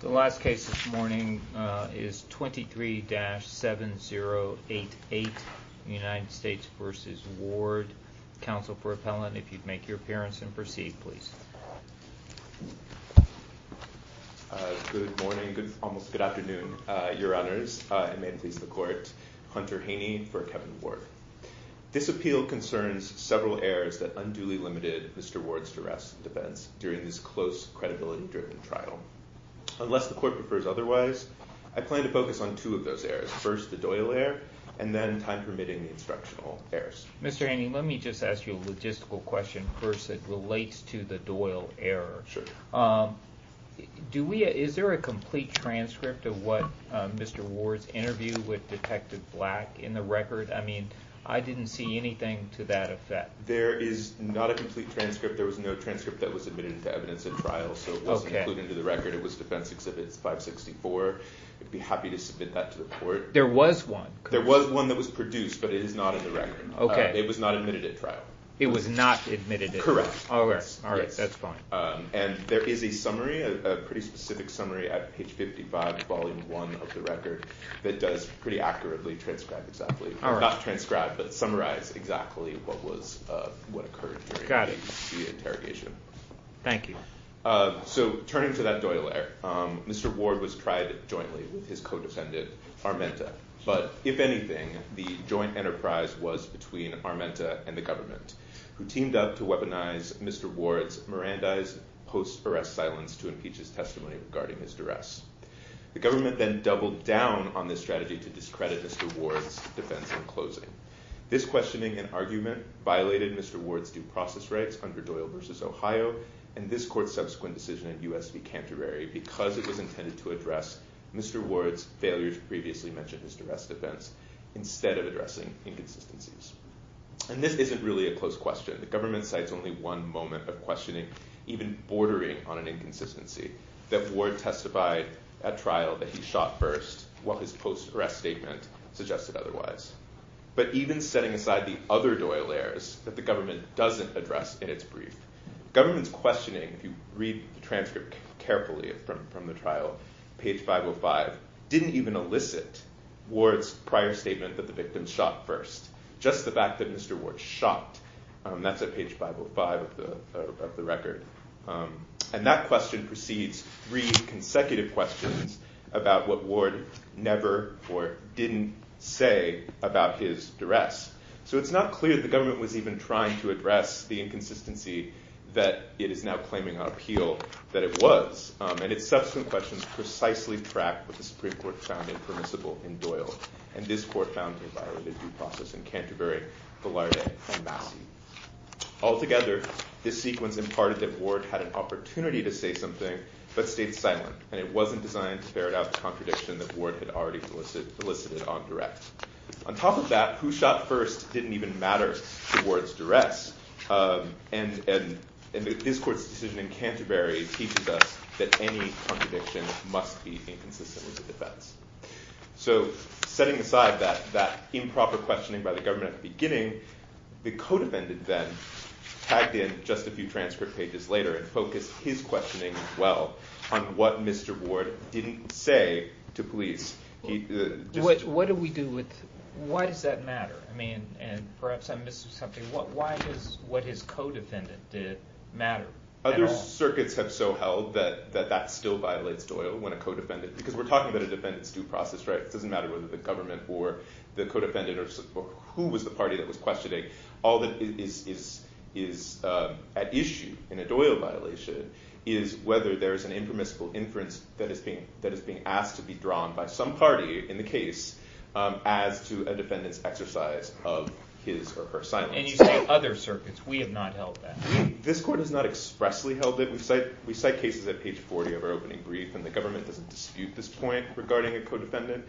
The last case this morning is 23-7088, United States v. Ward. Counsel for appellant, if you'd make your appearance and proceed, please. Good morning, almost good afternoon, your honors, and may it please the court, Hunter Haney for Kevin Ward. This appeal concerns several errors that unduly limited Mr. Ward's duress and defense during this close, credibility-driven trial. Unless the court prefers otherwise, I plan to focus on two of those errors, first the Doyle error, and then, time permitting, the instructional errors. Mr. Haney, let me just ask you a logistical question first that relates to the Doyle error. Is there a complete transcript of what Mr. Ward's interview with Detective Black in the record? I mean, I didn't see anything to that effect. Mr. Ward There is not a complete transcript, there was no transcript that was admitted into evidence at trial, so it wasn't included into the record. It was defense exhibits 564, I'd be happy to submit that to the court. Mr. Chodas There was one, correct? Mr. Ward There was one that was produced, but it is not in the record, it was not admitted at trial. Mr. Chodas It was not admitted at trial? Mr. Ward Correct. Mr. Chodas All right, that's fine. Mr. Ward And there is a summary, a pretty specific summary at page 55, volume 1 of the record, that does pretty accurately transcribe exactly. Mr. Chodas All right. Mr. Chodas Not transcribe, but summarize exactly what occurred during the interrogation. Mr. Chodas Got it. Thank you. Mr. Chodas So, turning to that Doyle error, Mr. Ward was tried jointly with his co-defendant, Armenta, but if anything, the joint enterprise was between Armenta and the government, who teamed up to weaponize Mr. Ward's Mirandize post-arrest silence to impeach his testimony regarding his duress. The government then doubled down on this strategy to discredit Mr. Ward's defense in closing. This questioning and argument violated Mr. Ward's due process rights under Doyle versus Ohio and this court's subsequent decision in U.S. v. Canterbury because it was intended to address Mr. Ward's failure to previously mention his duress defense instead of addressing inconsistencies. And this isn't really a close question. The government cites only one moment of questioning, even bordering on an inconsistency, that Ward testified at trial that he shot first while his post-arrest statement suggested otherwise. But even setting aside the other Doyle errors that the government doesn't address in its brief, government's questioning, if you read the transcript carefully from the trial, page 505, didn't even elicit Ward's prior statement that the victim shot first. Just the fact that Mr. Ward shot, that's at page 505 of the record. And that question precedes three consecutive questions about what Ward never or didn't say about his duress. So it's not clear the government was even trying to address the inconsistency that it is now claiming on appeal that it was. And its subsequent questions precisely track what the Supreme Court found impermissible in Doyle and this court found violated due process in Canterbury, Velarde, and Massey. Altogether, this sequence imparted that Ward had an opportunity to say something but stayed silent and it wasn't designed to ferret out the contradiction that Ward had already elicited on direct. On top of that, who shot first didn't even matter to Ward's duress and this court's decision in Canterbury teaches us that any contradiction must be inconsistent with the defense. So setting aside that improper questioning by the government at the beginning, the code defendant then tagged in just a few transcript pages later and focused his questioning as well on what Mr. Ward didn't say to police. What do we do with... Why does that matter? I mean, and perhaps I missed something, why does what his co-defendant did matter at all? Other circuits have so held that that still violates Doyle when a co-defendant... Because we're talking about a defendant's due process, right? It doesn't matter whether the government or the co-defendant or who was the party that was questioning. All that is at issue in a Doyle violation is whether there is an impermissible inference that is being asked to be drawn by some party in the case as to a defendant's exercise of his or her silence. And you say other circuits. We have not held that. This court has not expressly held it. We cite cases at page 40 of our opening brief and the government doesn't dispute this point regarding a co-defendant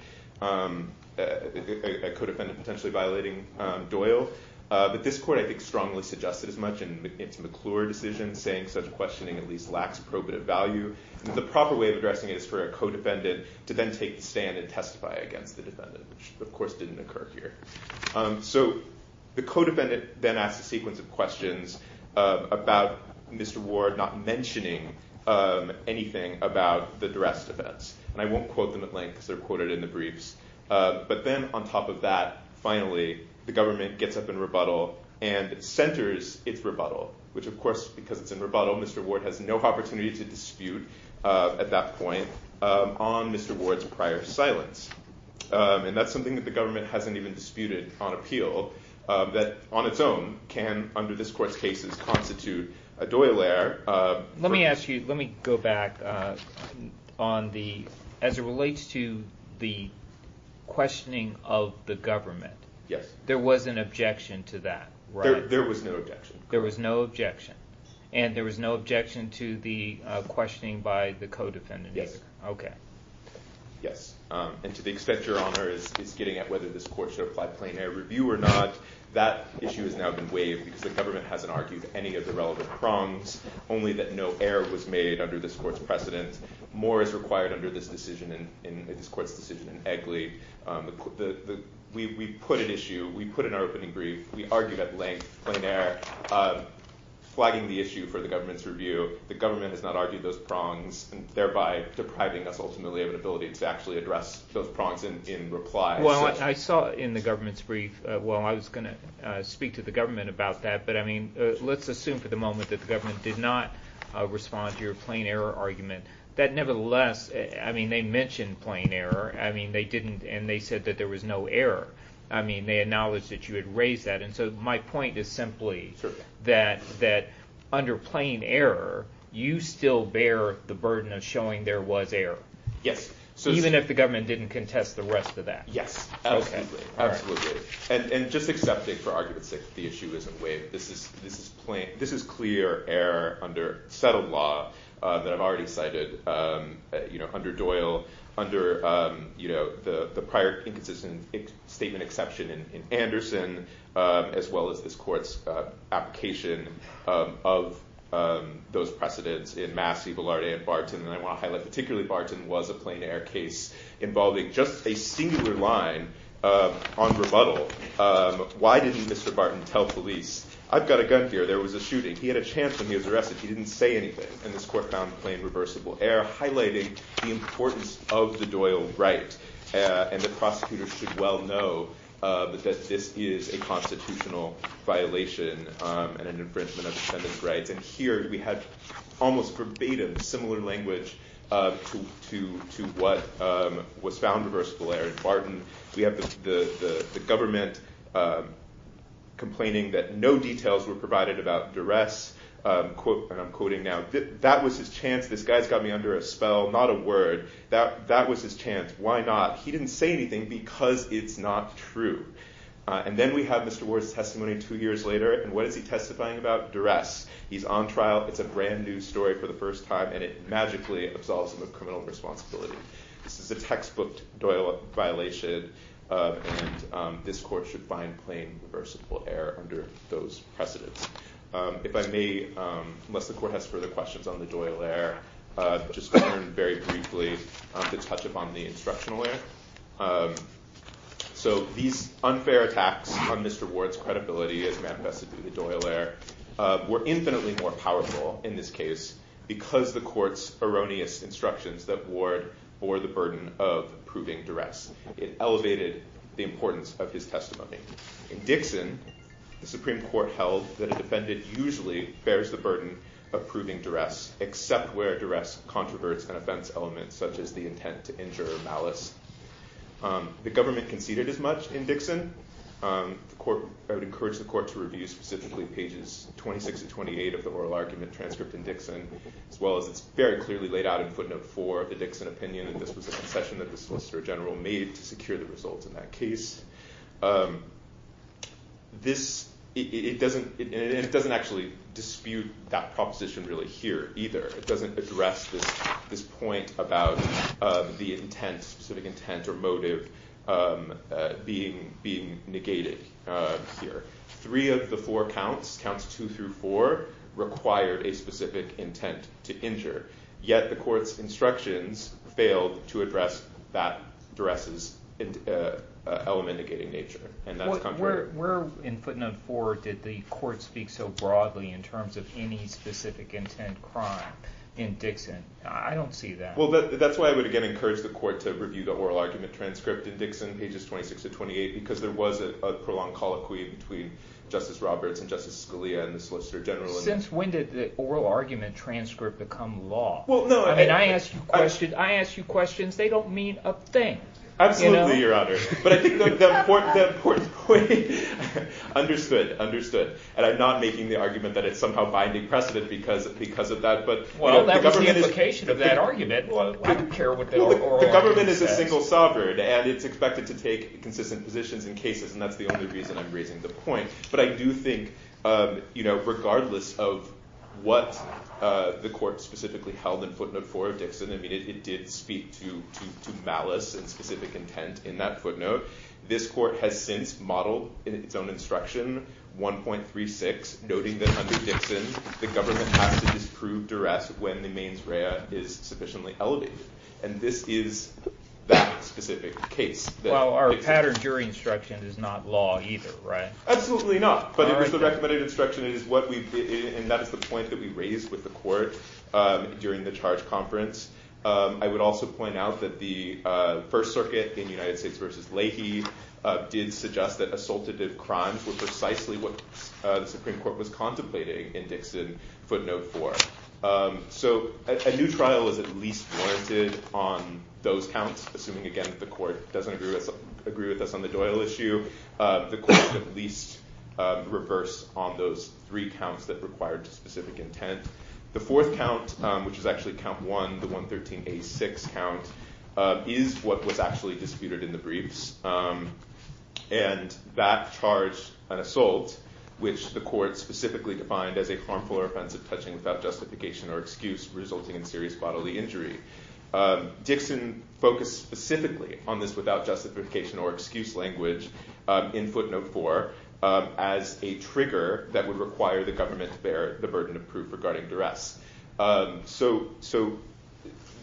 potentially violating Doyle, but this court, I think, strongly suggested as much in its McClure decision saying such questioning at least lacks probative value. The proper way of addressing it is for a co-defendant to then take the stand and testify against the defendant, which of course didn't occur here. So the co-defendant then asked a sequence of questions about Mr. Ward not mentioning anything about the duress defense. And I won't quote them at length because they're quoted in the briefs. But then on top of that, finally, the government gets up in rebuttal and centers its rebuttal, which of course, because it's in rebuttal, Mr. Ward has no opportunity to dispute at that point on Mr. Ward's prior silence. And that's something that the government hasn't even disputed on appeal that on its own can under this court's cases constitute a Doyle error. Let me ask you, let me go back on the, as it relates to the questioning of the government, there was an objection to that, right? There was no objection. There was no objection. And there was no objection to the questioning by the co-defendant either? Okay. Yes. And to the extent Your Honor is getting at whether this court should apply plain air review or not, that issue has now been waived because the government hasn't argued any of the relevant prongs, only that no error was made under this court's precedent. More is required under this decision, in this court's decision in Egley. We put an issue, we put in our opening brief, we argued at length, plain air, flagging the issue for the government's review. The government has not argued those prongs, thereby depriving us ultimately of an ability to actually address those prongs in reply. Well, I saw in the government's brief, well, I was going to speak to the government about that, but I mean, let's assume for the moment that the government did not respond to your plain air argument, that nevertheless, I mean, they mentioned plain air, I mean, they didn't, and they said that there was no error. I mean, they acknowledged that you had raised that. And so my point is simply that under plain air, you still bear the burden of showing there was air. Yes. Even if the government didn't contest the rest of that. Absolutely. And just accepting, for argument's sake, that the issue isn't waived, this is clear error under settled law that I've already cited under Doyle, under the prior inconsistent statement exception in Anderson, as well as this court's application of those precedents in Massey, Velarde, and Barton, and I want to highlight particularly Barton was a plain air case involving just a singular line on rebuttal. Why didn't Mr. Barton tell police, I've got a gun here, there was a shooting, he had a chance when he was arrested, he didn't say anything, and this court found plain reversible air, highlighted the importance of the Doyle right, and the prosecutors should well know that this is a constitutional violation and an infringement of defendant's rights. And here we have almost verbatim similar language to what was found reversible air in Barton. We have the government complaining that no details were provided about duress, and I'm quoting now, that was his chance, this guy's got me under a spell, not a word, that was his chance, why not? He didn't say anything because it's not true. And then we have Mr. Ward's testimony two years later, and what is he testifying about? Duress. He's on trial, it's a brand new story for the first time, and it magically absolves him of criminal responsibility. This is a textbook Doyle violation, and this court should find plain reversible air under those precedents. If I may, unless the court has further questions on the Doyle air, just very briefly to touch upon the instructional air. So these unfair attacks on Mr. Ward's credibility as manifested through the Doyle air were infinitely more powerful in this case because the court's erroneous instructions that Ward bore the burden of proving duress. It elevated the importance of his testimony. In Dixon, the Supreme Court held that a defendant usually bears the burden of proving duress except where it duress controversial and offense elements such as the intent to injure or malice. The government conceded as much in Dixon. I would encourage the court to review specifically pages 26 and 28 of the oral argument transcript in Dixon, as well as it's very clearly laid out in footnote four of the Dixon opinion that this was a concession that the Solicitor General made to secure the results in that case. And it doesn't actually dispute that proposition really here either. It doesn't address this point about the intent, specific intent or motive being negated here. Three of the four counts, counts two through four, required a specific intent to injure. Yet the court's instructions failed to address that duress's element negating nature. And that's contrary. Where in footnote four did the court speak so broadly in terms of any specific intent crime in Dixon? I don't see that. Well, that's why I would again encourage the court to review the oral argument transcript in Dixon, pages 26 to 28, because there was a prolonged colloquy between Justice Roberts and Justice Scalia and the Solicitor General. Since when did the oral argument transcript become law? Well, no. I mean, I ask you questions. I ask you questions. They don't mean a thing. Absolutely, Your Honor. But I think that the court's point, understood, understood. And I'm not making the argument that it's somehow binding precedent because of that. Well, that's the implication of that argument. I don't care what the oral argument says. The government is a single sovereign. And it's expected to take consistent positions in cases. And that's the only reason I'm raising the point. But I do think, regardless of what the court specifically held in footnote four of Dixon, I mean, it did speak to malice and specific intent in that footnote. This court has since modeled in its own instruction 1.36, noting that under Dixon, the government has to disprove duress when the mains rea is sufficiently elevated. And this is that specific case. Well, our pattern during instruction is not law either, right? Absolutely not. But it was the recommended instruction. And that is the point that we raised with the court during the charge conference. I would also point out that the First Circuit in United States v. Leahy did suggest that assultative crimes were precisely what the Supreme Court was contemplating in Dixon footnote four. So a new trial is at least warranted on those counts, assuming, again, that the court doesn't agree with us on the Doyle issue. So the court at least reversed on those three counts that required specific intent. The fourth count, which is actually count one, the 113A6 count, is what was actually disputed in the briefs. And that charged an assault, which the court specifically defined as a harmful or offensive touching without justification or excuse, resulting in serious bodily injury. Dixon focused specifically on this without justification or excuse language in footnote four as a trigger that would require the government to bear the burden of proof regarding duress. So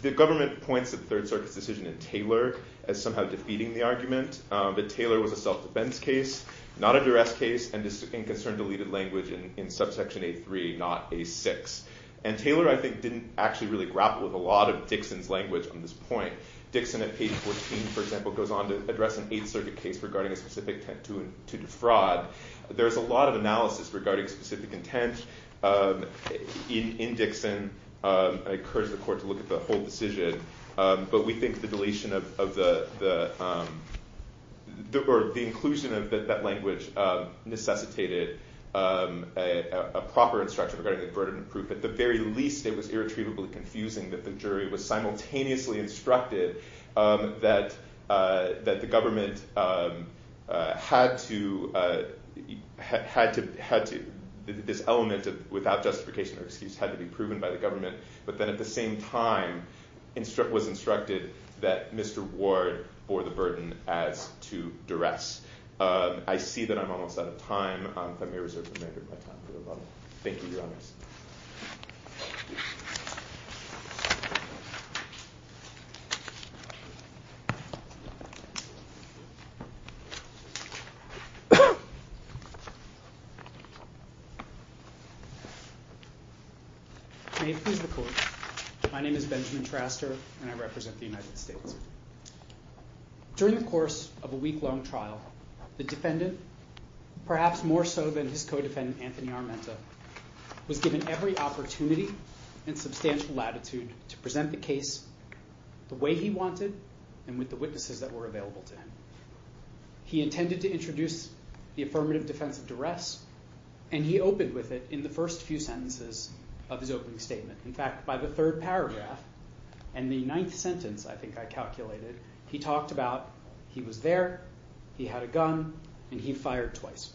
the government points to the Third Circuit's decision in Taylor as somehow defeating the But Taylor was a self-defense case, not a duress case, and concerned deleted language in subsection A3, not A6. And Taylor, I think, didn't actually really grapple with a lot of Dixon's language on this point. Dixon at page 14, for example, goes on to address an Eighth Circuit case regarding a specific intent to defraud. There is a lot of analysis regarding specific intent in Dixon. I encourage the court to look at the whole decision. But we think the deletion of the, or the inclusion of that language necessitated a proper instruction regarding the burden of proof. At the very least, it was irretrievably confusing that the jury was simultaneously instructed that the government had to, this element of without justification or excuse had to be proven by the government, but then at the same time was instructed that Mr. Ward bore the burden as to duress. I see that I'm almost out of time. If I may reserve the remainder of my time for a moment. Thank you, Your Honor. May it please the Court. My name is Benjamin Traster, and I represent the United States. During the course of a week-long trial, the defendant, perhaps more so than his co-defendant Anthony Armenta, was given every opportunity and substantial latitude to present the case the way he wanted and with the witnesses that were available to him. He intended to introduce the affirmative defense of duress, and he opened with it in the first few sentences of his opening statement. In fact, by the third paragraph and the ninth sentence, I think I calculated, he talked about he was there, he had a gun, and he fired twice.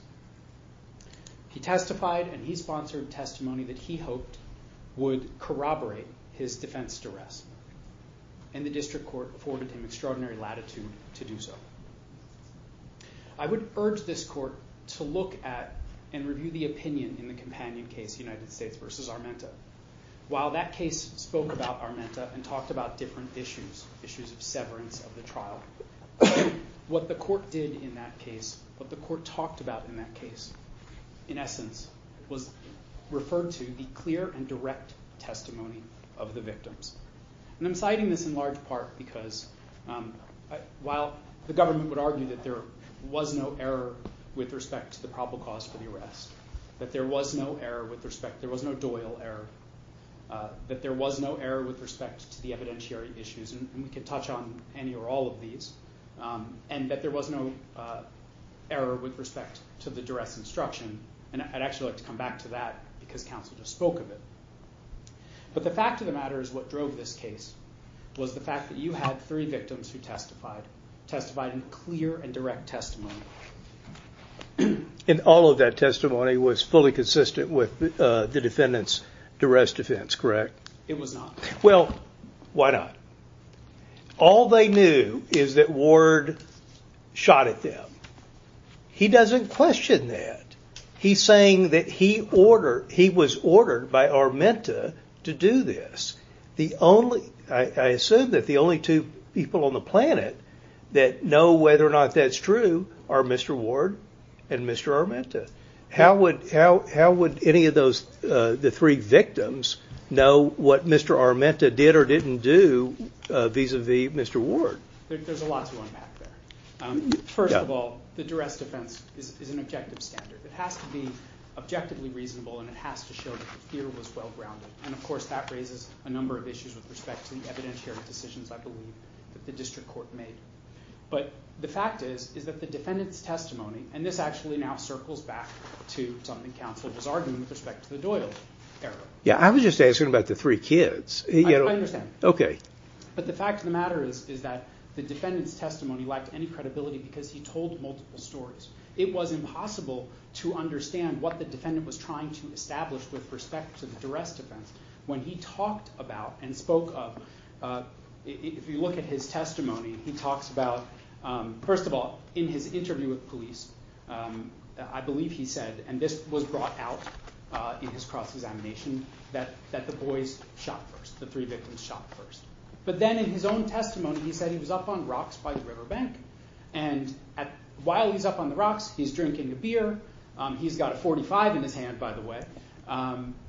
He testified, and he sponsored testimony that he hoped would corroborate his defense duress. And the District Court afforded him extraordinary latitude to do so. I would urge this Court to look at and review the opinion in the companion case, United States v. Armenta. While that case spoke about Armenta and talked about different issues, issues of severance of the trial, what the Court did in that case, what the Court talked about in that case, in essence, was referred to the clear and direct testimony of the victims. And I'm citing this in large part because, while the government would argue that there was no error with respect to the probable cause for the arrest, that there was no error with respect, there was no Doyle error, that there was no error with respect to the evidentiary issues, and we can touch on any or all of these, and that there was no error with respect to the duress instruction, and I'd actually like to come back to that because counsel just spoke of it. But the fact of the matter is what drove this case was the fact that you had three victims who testified, testified in clear and direct testimony. And all of that testimony was fully consistent with the defendant's duress defense, correct? It was not. Well, why not? All they knew is that Ward shot at them. He doesn't question that. He's saying that he was ordered by Armenta to do this. I assume that the only two people on the planet that know whether or not that's true are Mr. Ward and Mr. Armenta. How would any of those, the three victims, know what Mr. Armenta did or didn't do vis-a-vis Mr. Ward? There's a lot to unpack there. First of all, the duress defense is an objective standard. It has to be objectively reasonable and it has to show that the fear was well grounded. And of course that raises a number of issues with respect to the evidentiary decisions, I believe, that the district court made. But the fact is that the defendant's testimony, and this actually now circles back to something counsel was arguing with respect to the Doyle era. Yeah, I was just asking about the three kids. I understand. Okay. But the fact of the matter is that the defendant's testimony lacked any credibility because he told multiple stories. It was impossible to understand what the defendant was trying to establish with respect to the duress defense when he talked about and spoke of, if you look at his testimony, he talks about, first of all, in his interview with police, I believe he said, and this was brought out in his cross-examination, that the boys shot first. The three victims shot first. But then in his own testimony, he said he was up on rocks by the riverbank. And while he's up on the rocks, he's drinking a beer. He's got a .45 in his hand, by the way.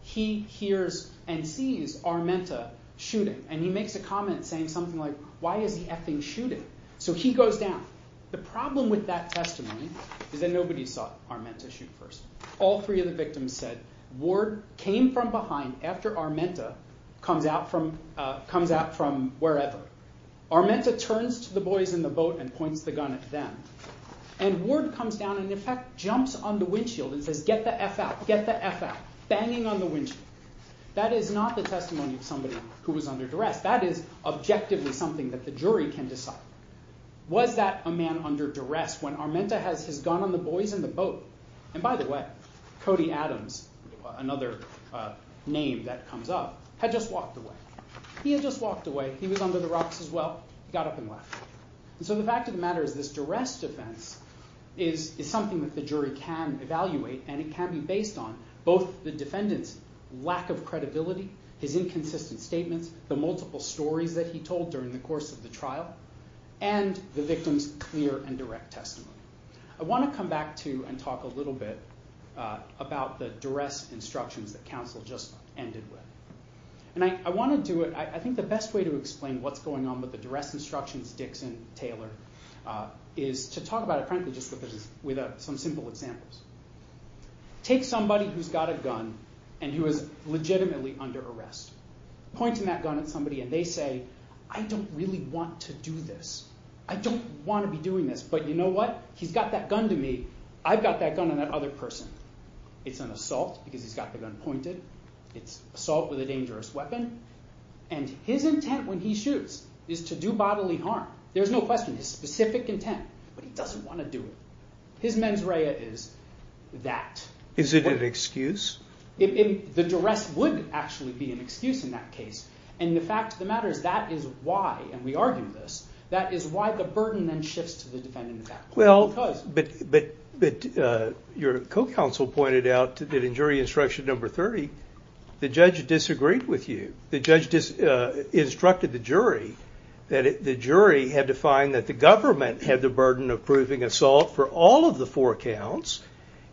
He hears and sees Armenta shooting. And he makes a comment saying something like, why is he effing shooting? So he goes down. The problem with that testimony is that nobody saw Armenta shoot first. All three of the victims said Ward came from behind after Armenta comes out from wherever. Armenta turns to the boys in the boat and points the gun at them. And Ward comes down and, in fact, jumps on the windshield and says, get the eff out, get the eff out, banging on the windshield. That is not the testimony of somebody who was under duress. That is objectively something that the jury can decide. Was that a man under duress when Armenta has his gun on the boys in the boat? And by the way, Cody Adams, another name that comes up, had just walked away. He had just walked away. He was under the rocks as well. He got up and left. And so the fact of the matter is this duress defense is something that the jury can evaluate and it can be based on. Both the defendant's lack of credibility, his inconsistent statements, the multiple stories that he told during the course of the trial, and the victim's clear and direct testimony. I want to come back to and talk a little bit about the duress instructions that counsel just ended with. And I want to do it. I think the best way to explain what's going on with the duress instructions, Dixon, Taylor, is to talk about it frankly just with some simple examples. Take somebody who's got a gun and who is legitimately under arrest. Pointing that gun at somebody and they say, I don't really want to do this. I don't want to be doing this. But you know what? He's got that gun to me. I've got that gun on that other person. It's an assault because he's got the gun pointed. It's assault with a dangerous weapon. And his intent when he shoots is to do bodily harm. There's no question. His specific intent. But he doesn't want to do it. His mens rea is that. Is it an excuse? The duress would actually be an excuse in that case. And the fact of the matter is that is why, and we argued this, that is why the burden then shifts to the defendant. Well, but your co-counsel pointed out that in jury instruction number 30, the judge disagreed with you. The judge instructed the jury that the jury had to find that the government had the burden of proving assault for all of the four counts.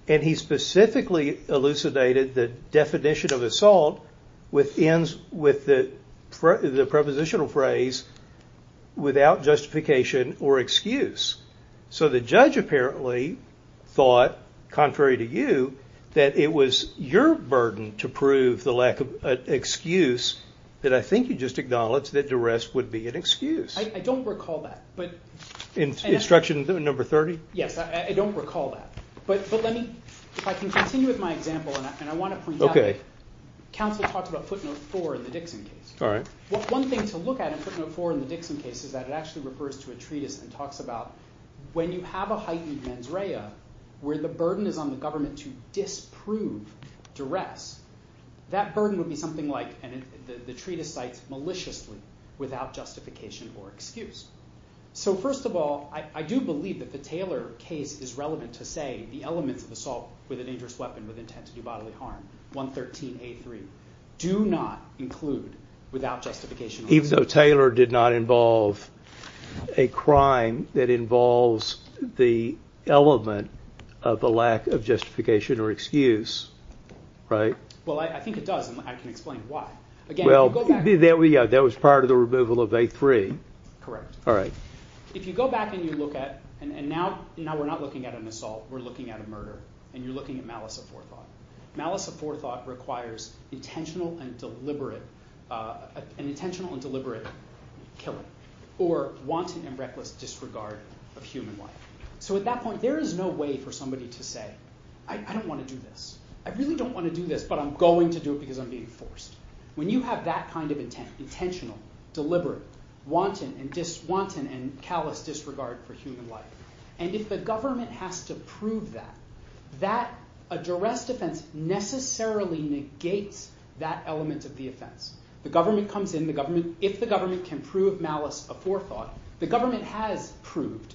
And he specifically elucidated the definition of assault with ends with the prepositional phrase, without justification or excuse. So the judge apparently thought, contrary to you, that it was your burden to prove the lack of excuse that I think you just acknowledged that duress would be an excuse. I don't recall that. Instruction number 30? Yes. I don't recall that. But let me, if I can continue with my example, and I want to point out that counsel talked about footnote four in the Dixon case. One thing to look at in footnote four in the Dixon case is that it actually refers to a treatise and talks about when you have a heightened mens rea where the burden is on the government to disprove duress, that burden would be something like, and the treatise cites maliciously, without justification or excuse. So first of all, I do believe that the Taylor case is relevant to say the elements of assault with a dangerous weapon with intent to do bodily harm, 113A3, do not include without justification or excuse. Even though Taylor did not involve a crime that involves the element of the lack of justification or excuse, right? Well, I think it does, and I can explain why. Well, that was part of the removal of A3. Correct. All right. If you go back and you look at, and now we're not looking at an assault, we're looking at a murder, and you're looking at malice of forethought. Malice of forethought requires intentional and deliberate, an intentional and deliberate killing, or wanton and reckless disregard of human life. So at that point, there is no way for somebody to say, I don't want to do this. I really don't want to do this, but I'm going to do it because I'm being forced. When you have that kind of intent, intentional, deliberate, wanton and callous disregard for human life, and if the government has to prove that, that, a duress defense necessarily negates that element of the offense. The government comes in, if the government can prove malice of forethought, the government has proved,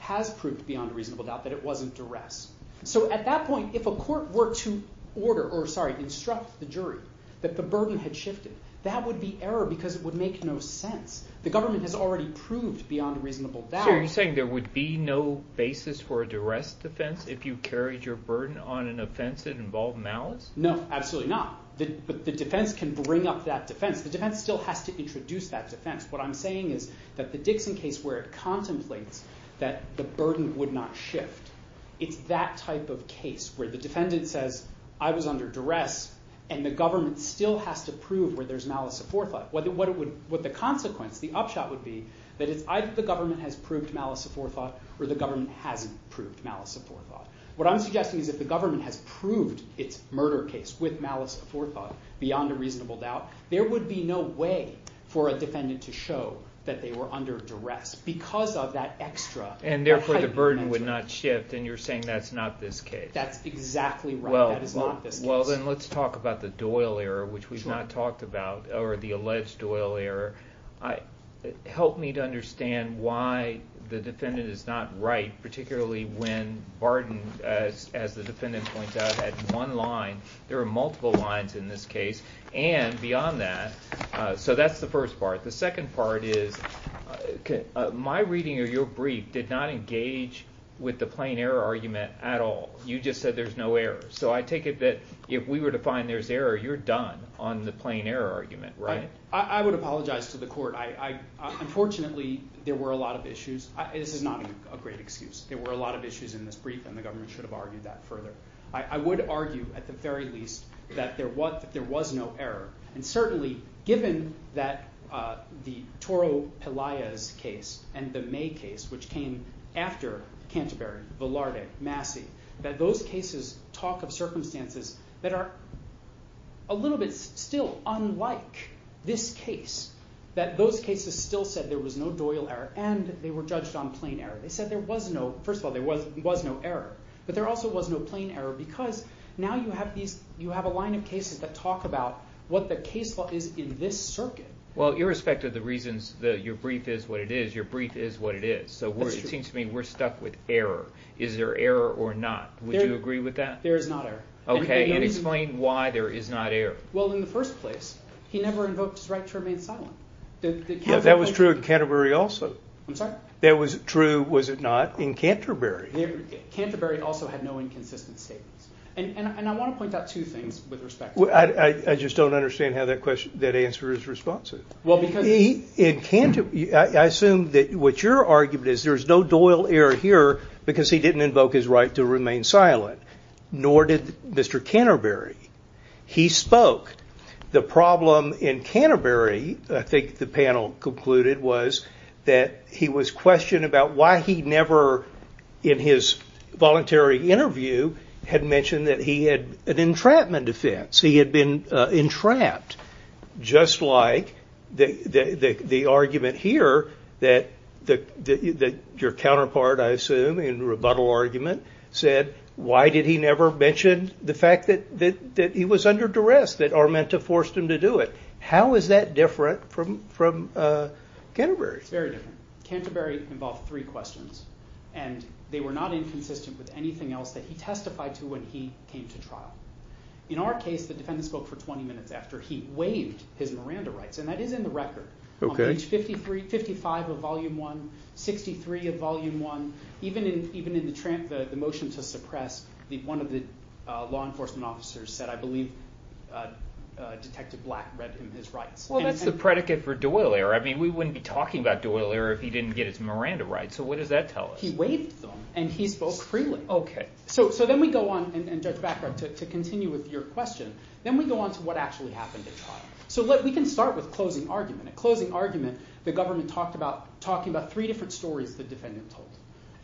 has proved beyond reasonable doubt that it wasn't duress. So at that point, if a court were to order, or sorry, instruct the jury that the burden had shifted, that would be error because it would make no sense. The government has already proved beyond reasonable doubt. So you're saying there would be no basis for a duress defense if you carried your burden on an offense that involved malice? No, absolutely not. The defense can bring up that defense. The defense still has to introduce that defense. What I'm saying is that the Dixon case, where it contemplates that the burden would not shift, it's that type of case where the defendant says, I was under duress and the government still has to prove where there's malice of forethought. What the consequence, the upshot would be, that it's either the government has proved malice of forethought or the government hasn't proved malice of forethought. What I'm suggesting is if the government has proved its murder case with malice of forethought, beyond a reasonable doubt, there would be no way for a defendant to show that they were under duress because of that extra type of mental... And therefore the burden would not shift, and you're saying that's not this case. That's exactly right. That is not this case. Well, then let's talk about the Doyle error, which we've not talked about, or the alleged Doyle error. Help me to understand why the defendant is not right, particularly when Barton, as the defendant points out, had one line. There are multiple lines in this case, and beyond that. So that's the first part. The second part is, my reading of your brief did not engage with the plain error argument at all. You just said there's no error. So I take it that if we were to find there's error, you're done on the plain error argument, right? I would apologize to the court. Unfortunately, there were a lot of issues. This is not a great excuse. There were a lot of issues in this brief, and the government should have argued that further. I would argue, at the very least, that there was no error. And certainly, given that the Toro Pelaya's case, and the May case, which came after Canterbury, Velarde, Massey, that those cases talk of circumstances that are a little bit still unlike this case. That those cases still said there was no Doyle error, and they were judged on plain error. They said there was no, first of all, there was no error. But there also was no plain error, because now you have a line of cases that talk about what the case law is in this circuit. Well, irrespective of the reasons that your brief is what it is, your brief is what it is. So it seems to me we're stuck with error. Is there error or not? Would you agree with that? There is not error. Okay, and explain why there is not error. Well, in the first place, he never invoked his right to remain silent. That was true in Canterbury also. I'm sorry? That was true, was it not, in Canterbury. Canterbury also had no inconsistent statements. And I want to point out two things with respect to that. I just don't understand how that answer is responsive. I assume that what your argument is, there is no Doyle error here because he didn't invoke his right to remain silent. Nor did Mr. Canterbury. He spoke. The problem in Canterbury, I think the panel concluded, was that he was questioned about why he never, in his voluntary interview, had mentioned that he had an entrapment offense. So he had been entrapped, just like the argument here that your counterpart, I assume, in the rebuttal argument, said why did he never mention the fact that he was under duress, that Armenta forced him to do it. How is that different from Canterbury? It's very different. Canterbury involved three questions. And they were not inconsistent with anything else that he testified to when he came to trial. In our case, the defendant spoke for 20 minutes after he waived his Miranda rights. And that is in the record. On page 55 of volume 1, 63 of volume 1, even in the motion to suppress, one of the law enforcement officers said, I believe Detective Black read him his rights. Well, that's the predicate for Doyle error. We wouldn't be talking about Doyle error if he didn't get his Miranda rights. So what does that tell us? He waived them and he spoke freely. OK. So then we go on, and Judge Backhart, to continue with your question. Then we go on to what actually happened at trial. So we can start with closing argument. At closing argument, the government talked about three different stories the defendant told.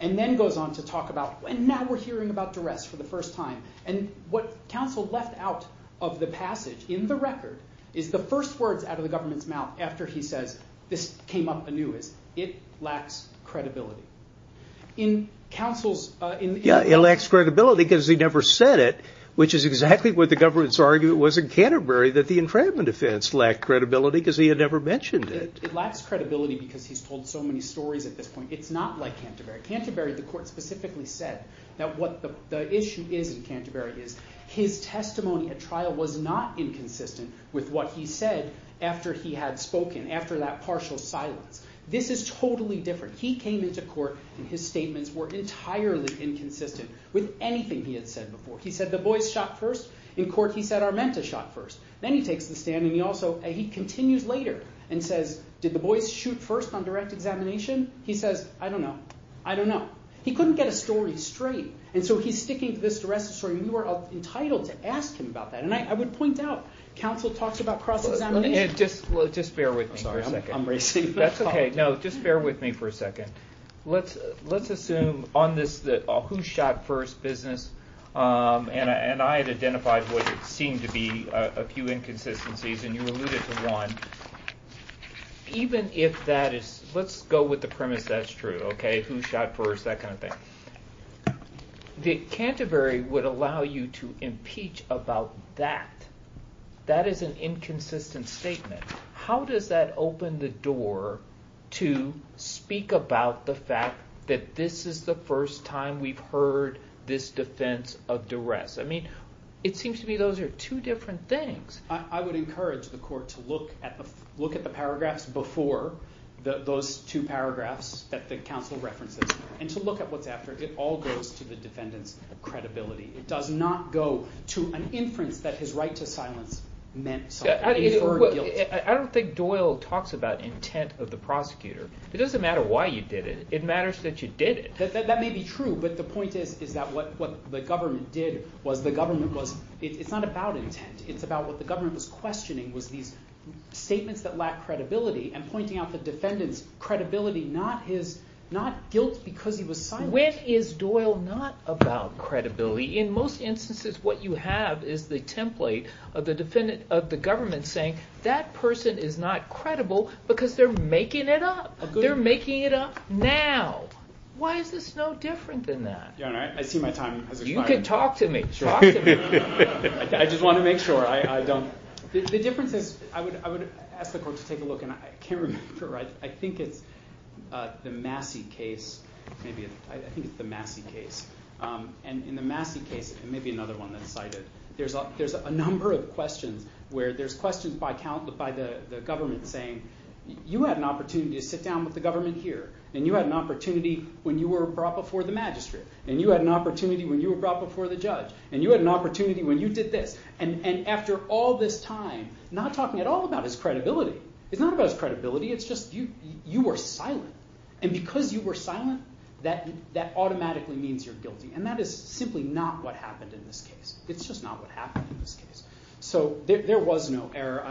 And then goes on to talk about, and now we're hearing about duress for the first time. And what counsel left out of the passage in the record is the first words out of the government's mouth after he says, this came up anew, is it lacks credibility. In counsel's- Yeah, it lacks credibility because he never said it, which is exactly what the government's argument was in Canterbury, that the infringement offense lacked credibility because he had never mentioned it. It lacks credibility because he's told so many stories at this point. It's not like Canterbury. Canterbury, the court specifically said, that what the issue is in Canterbury is, his testimony at trial was not inconsistent with what he said after he had spoken, after that partial silence. This is totally different. He came into court and his statements were entirely inconsistent with anything he had said before. He said, the boys shot first. In court he said, Armenta shot first. Then he takes the stand and he continues later and says, did the boys shoot first on direct examination? He says, I don't know. I don't know. He couldn't get a story straight. And so he's sticking to this duress story. We were entitled to ask him about that. And I would point out, counsel talks about cross-examination. Just bear with me for a second. I'm receiving a call. That's OK. No, just bear with me for a second. Let's assume on this, the who shot first business. And I had identified what seemed to be a few inconsistencies. And you alluded to one. Even if that is, let's go with the premise that's true. OK, who shot first, that kind of thing. The Canterbury would allow you to impeach about that. That is an inconsistent statement. How does that open the door to speak about the fact that this is the first time we've heard this defense of duress? It seems to me those are two different things. I would encourage the court to look at the paragraphs before those two paragraphs that the counsel references. And to look at what's after it. It all goes to the defendant's credibility. It does not go to an inference that his right to silence meant something. I don't think Doyle talks about intent of the prosecutor. It doesn't matter why you did it. It matters that you did it. That may be true. But the point is that what the government did was, the government was, it's not about intent. It's about what the government was questioning was these statements that lack credibility. And pointing out the defendant's credibility, not guilt because he was silent. When is Doyle not about credibility? In most instances, what you have is the template of the government saying, that person is not credible because they're making it up. They're making it up now. Why is this no different than that? Your Honor, I see my time has expired. You can talk to me. Talk to me. I just want to make sure I don't. The difference is, I would ask the court to take a look. And I can't remember. I think it's the Massey case. I think it's the Massey case. And in the Massey case, and maybe another one that's cited, there's a number of questions where there's questions by the government saying, you had an opportunity to sit down with the government here. And you had an opportunity when you were brought before the magistrate. And you had an opportunity when you were brought before the judge. And you had an opportunity when you did this. And after all this time, not talking at all about his credibility. It's not about his credibility. It's just you were silent. And because you were silent, that automatically means you're guilty. And that is simply not what happened in this case. It's just not what happened in this case. So there was no error.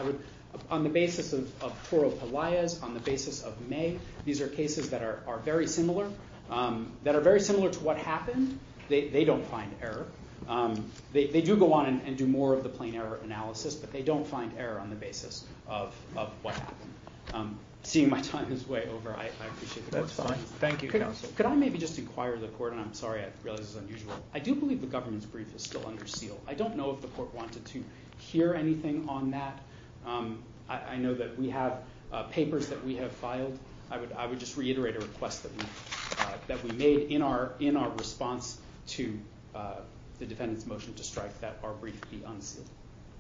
On the basis of Toro Pelaez, on the basis of May, these are cases that are very similar. That are very similar to what happened. They don't find error. They do go on and do more of the plain error analysis. But they don't find error on the basis of what happened. Seeing my time is way over, I appreciate the court's time. Thank you, counsel. Could I maybe just inquire the court, and I'm sorry I realize this is unusual. I do believe the government's brief is still under seal. I don't know if the court wanted to hear anything on that. I know that we have papers that we have filed. I would just reiterate a request that we made in our response to the defendant's motion to strike that our brief be unsealed.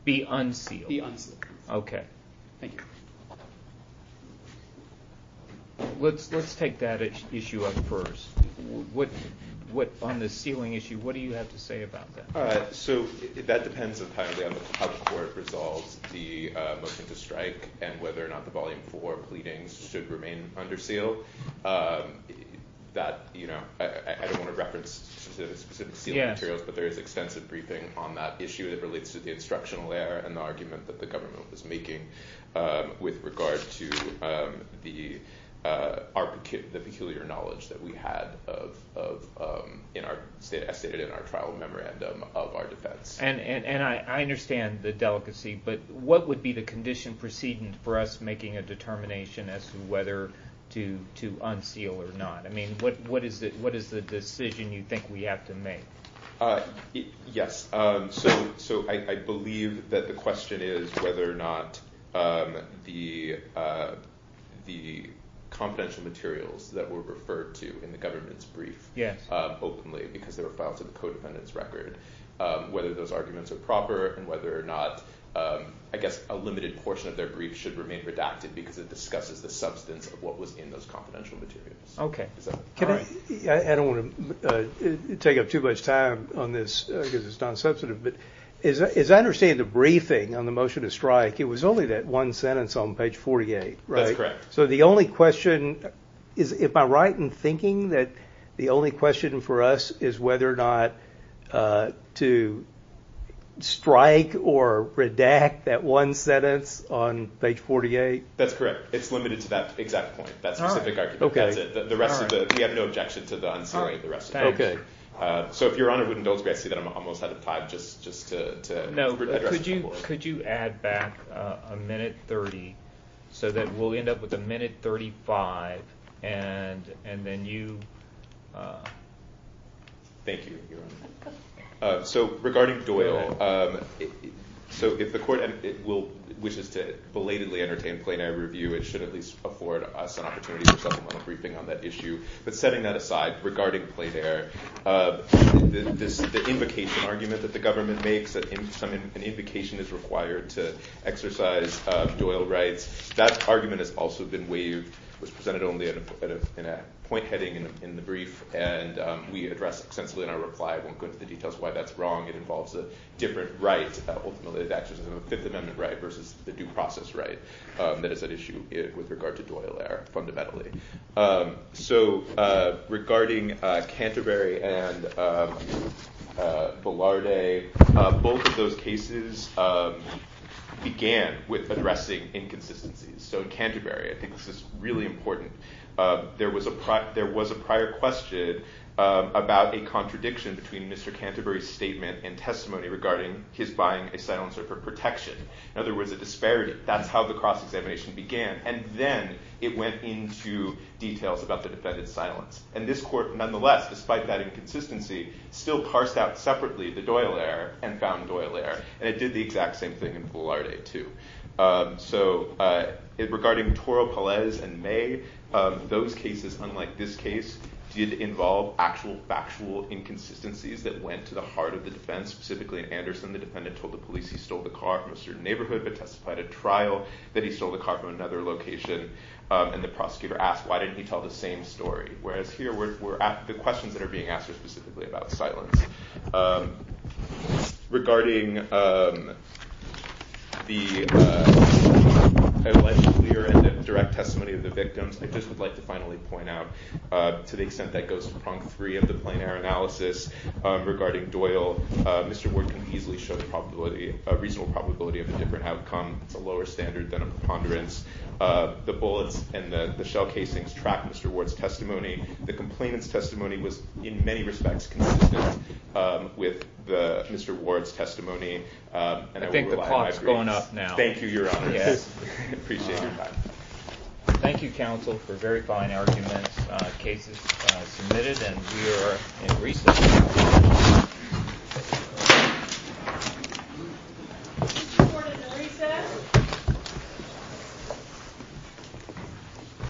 Be unsealed? Be unsealed. Okay. Thank you. Let's take that issue up first. On the sealing issue, what do you have to say about that? That depends on how the court resolves the motion to strike and whether or not the volume four pleadings should remain under seal. I don't want to reference specific sealing materials, but there is extensive briefing on that issue that relates to the instructional error and the argument that the government was making with regard to the peculiar knowledge that we had as stated in our trial memorandum of our defense. I understand the delicacy, but what would be the condition preceding for us making a determination as to whether to unseal or not? What is the decision you think we have to make? Yes. I believe that the question is whether or not the confidential materials that were referred to in the government's brief openly, because they were filed to the codependent's record, whether those arguments are proper and whether or not a limited portion of their brief should remain redacted because it discusses the substance of what was in those confidential materials. I don't want to take up too much time on this because it's non-substantive, but as I understand the briefing on the motion to strike, it was only that one sentence on page 48, right? That's correct. So the only question, am I right in thinking that the only question for us is whether or not to strike or redact that one sentence on page 48? That's correct. It's limited to that exact point, that specific argument. That's it. We have no objection to the unsealing of the rest of it. So if Your Honor wouldn't indulge me, I see that I'm almost out of time just to address the board. No, could you add back a minute 30 so that we'll end up with a minute 35 and then you... Thank you, Your Honor. So regarding Doyle, so if the court wishes to belatedly entertain plenary review, it should at least afford us an opportunity for supplemental briefing on that issue. But setting that aside, regarding plenary, the invocation argument that the government makes, that an invocation is required to exercise Doyle rights, that argument has also been waived, was presented only in a point heading in the brief, and we address extensively in our reply. I won't go into the details of why that's wrong. It involves a different right, ultimately the exercise of a Fifth Amendment right versus the due process right that is at issue with regard to Doyle there, fundamentally. So regarding Canterbury and Ballardet, both of those cases began with addressing inconsistencies. So in Canterbury, I think this is really important, there was a prior question about a contradiction between Mr. Canterbury's statement and testimony regarding his buying a silencer for protection. In other words, a disparity. That's how the cross-examination began. And then it went into details about the defendant's silence. And this court, nonetheless, despite that inconsistency, still parsed out separately the Doyle error and found Doyle error. And it did the exact same thing in Ballardet too. So regarding Toro, Pelez, and May, those cases, unlike this case, did involve actual factual inconsistencies that went to the heart of the defense. Specifically in Anderson, the defendant told the police he stole the car from a certain neighborhood but testified at trial that he stole the car from another location. And the prosecutor asked, why didn't he tell the same story? Whereas here, the questions that are being asked are specifically about silence. Regarding the clear and direct testimony of the victims, I just would like to finally point out, to the extent that goes to prong three of the plain error analysis, regarding Doyle, Mr. Ward can easily show a reasonable probability of a different outcome. It's a lower standard than a preponderance. The bullets and the shell casings track Mr. Ward's testimony. The complainant's testimony was, in many respects, consistent with Mr. Ward's testimony. I think the clock's going up now. Thank you, Your Honor. I appreciate your time. Thank you, counsel, for very fine arguments. The case is submitted, and we are in recess. Is Mr. Ward in recess?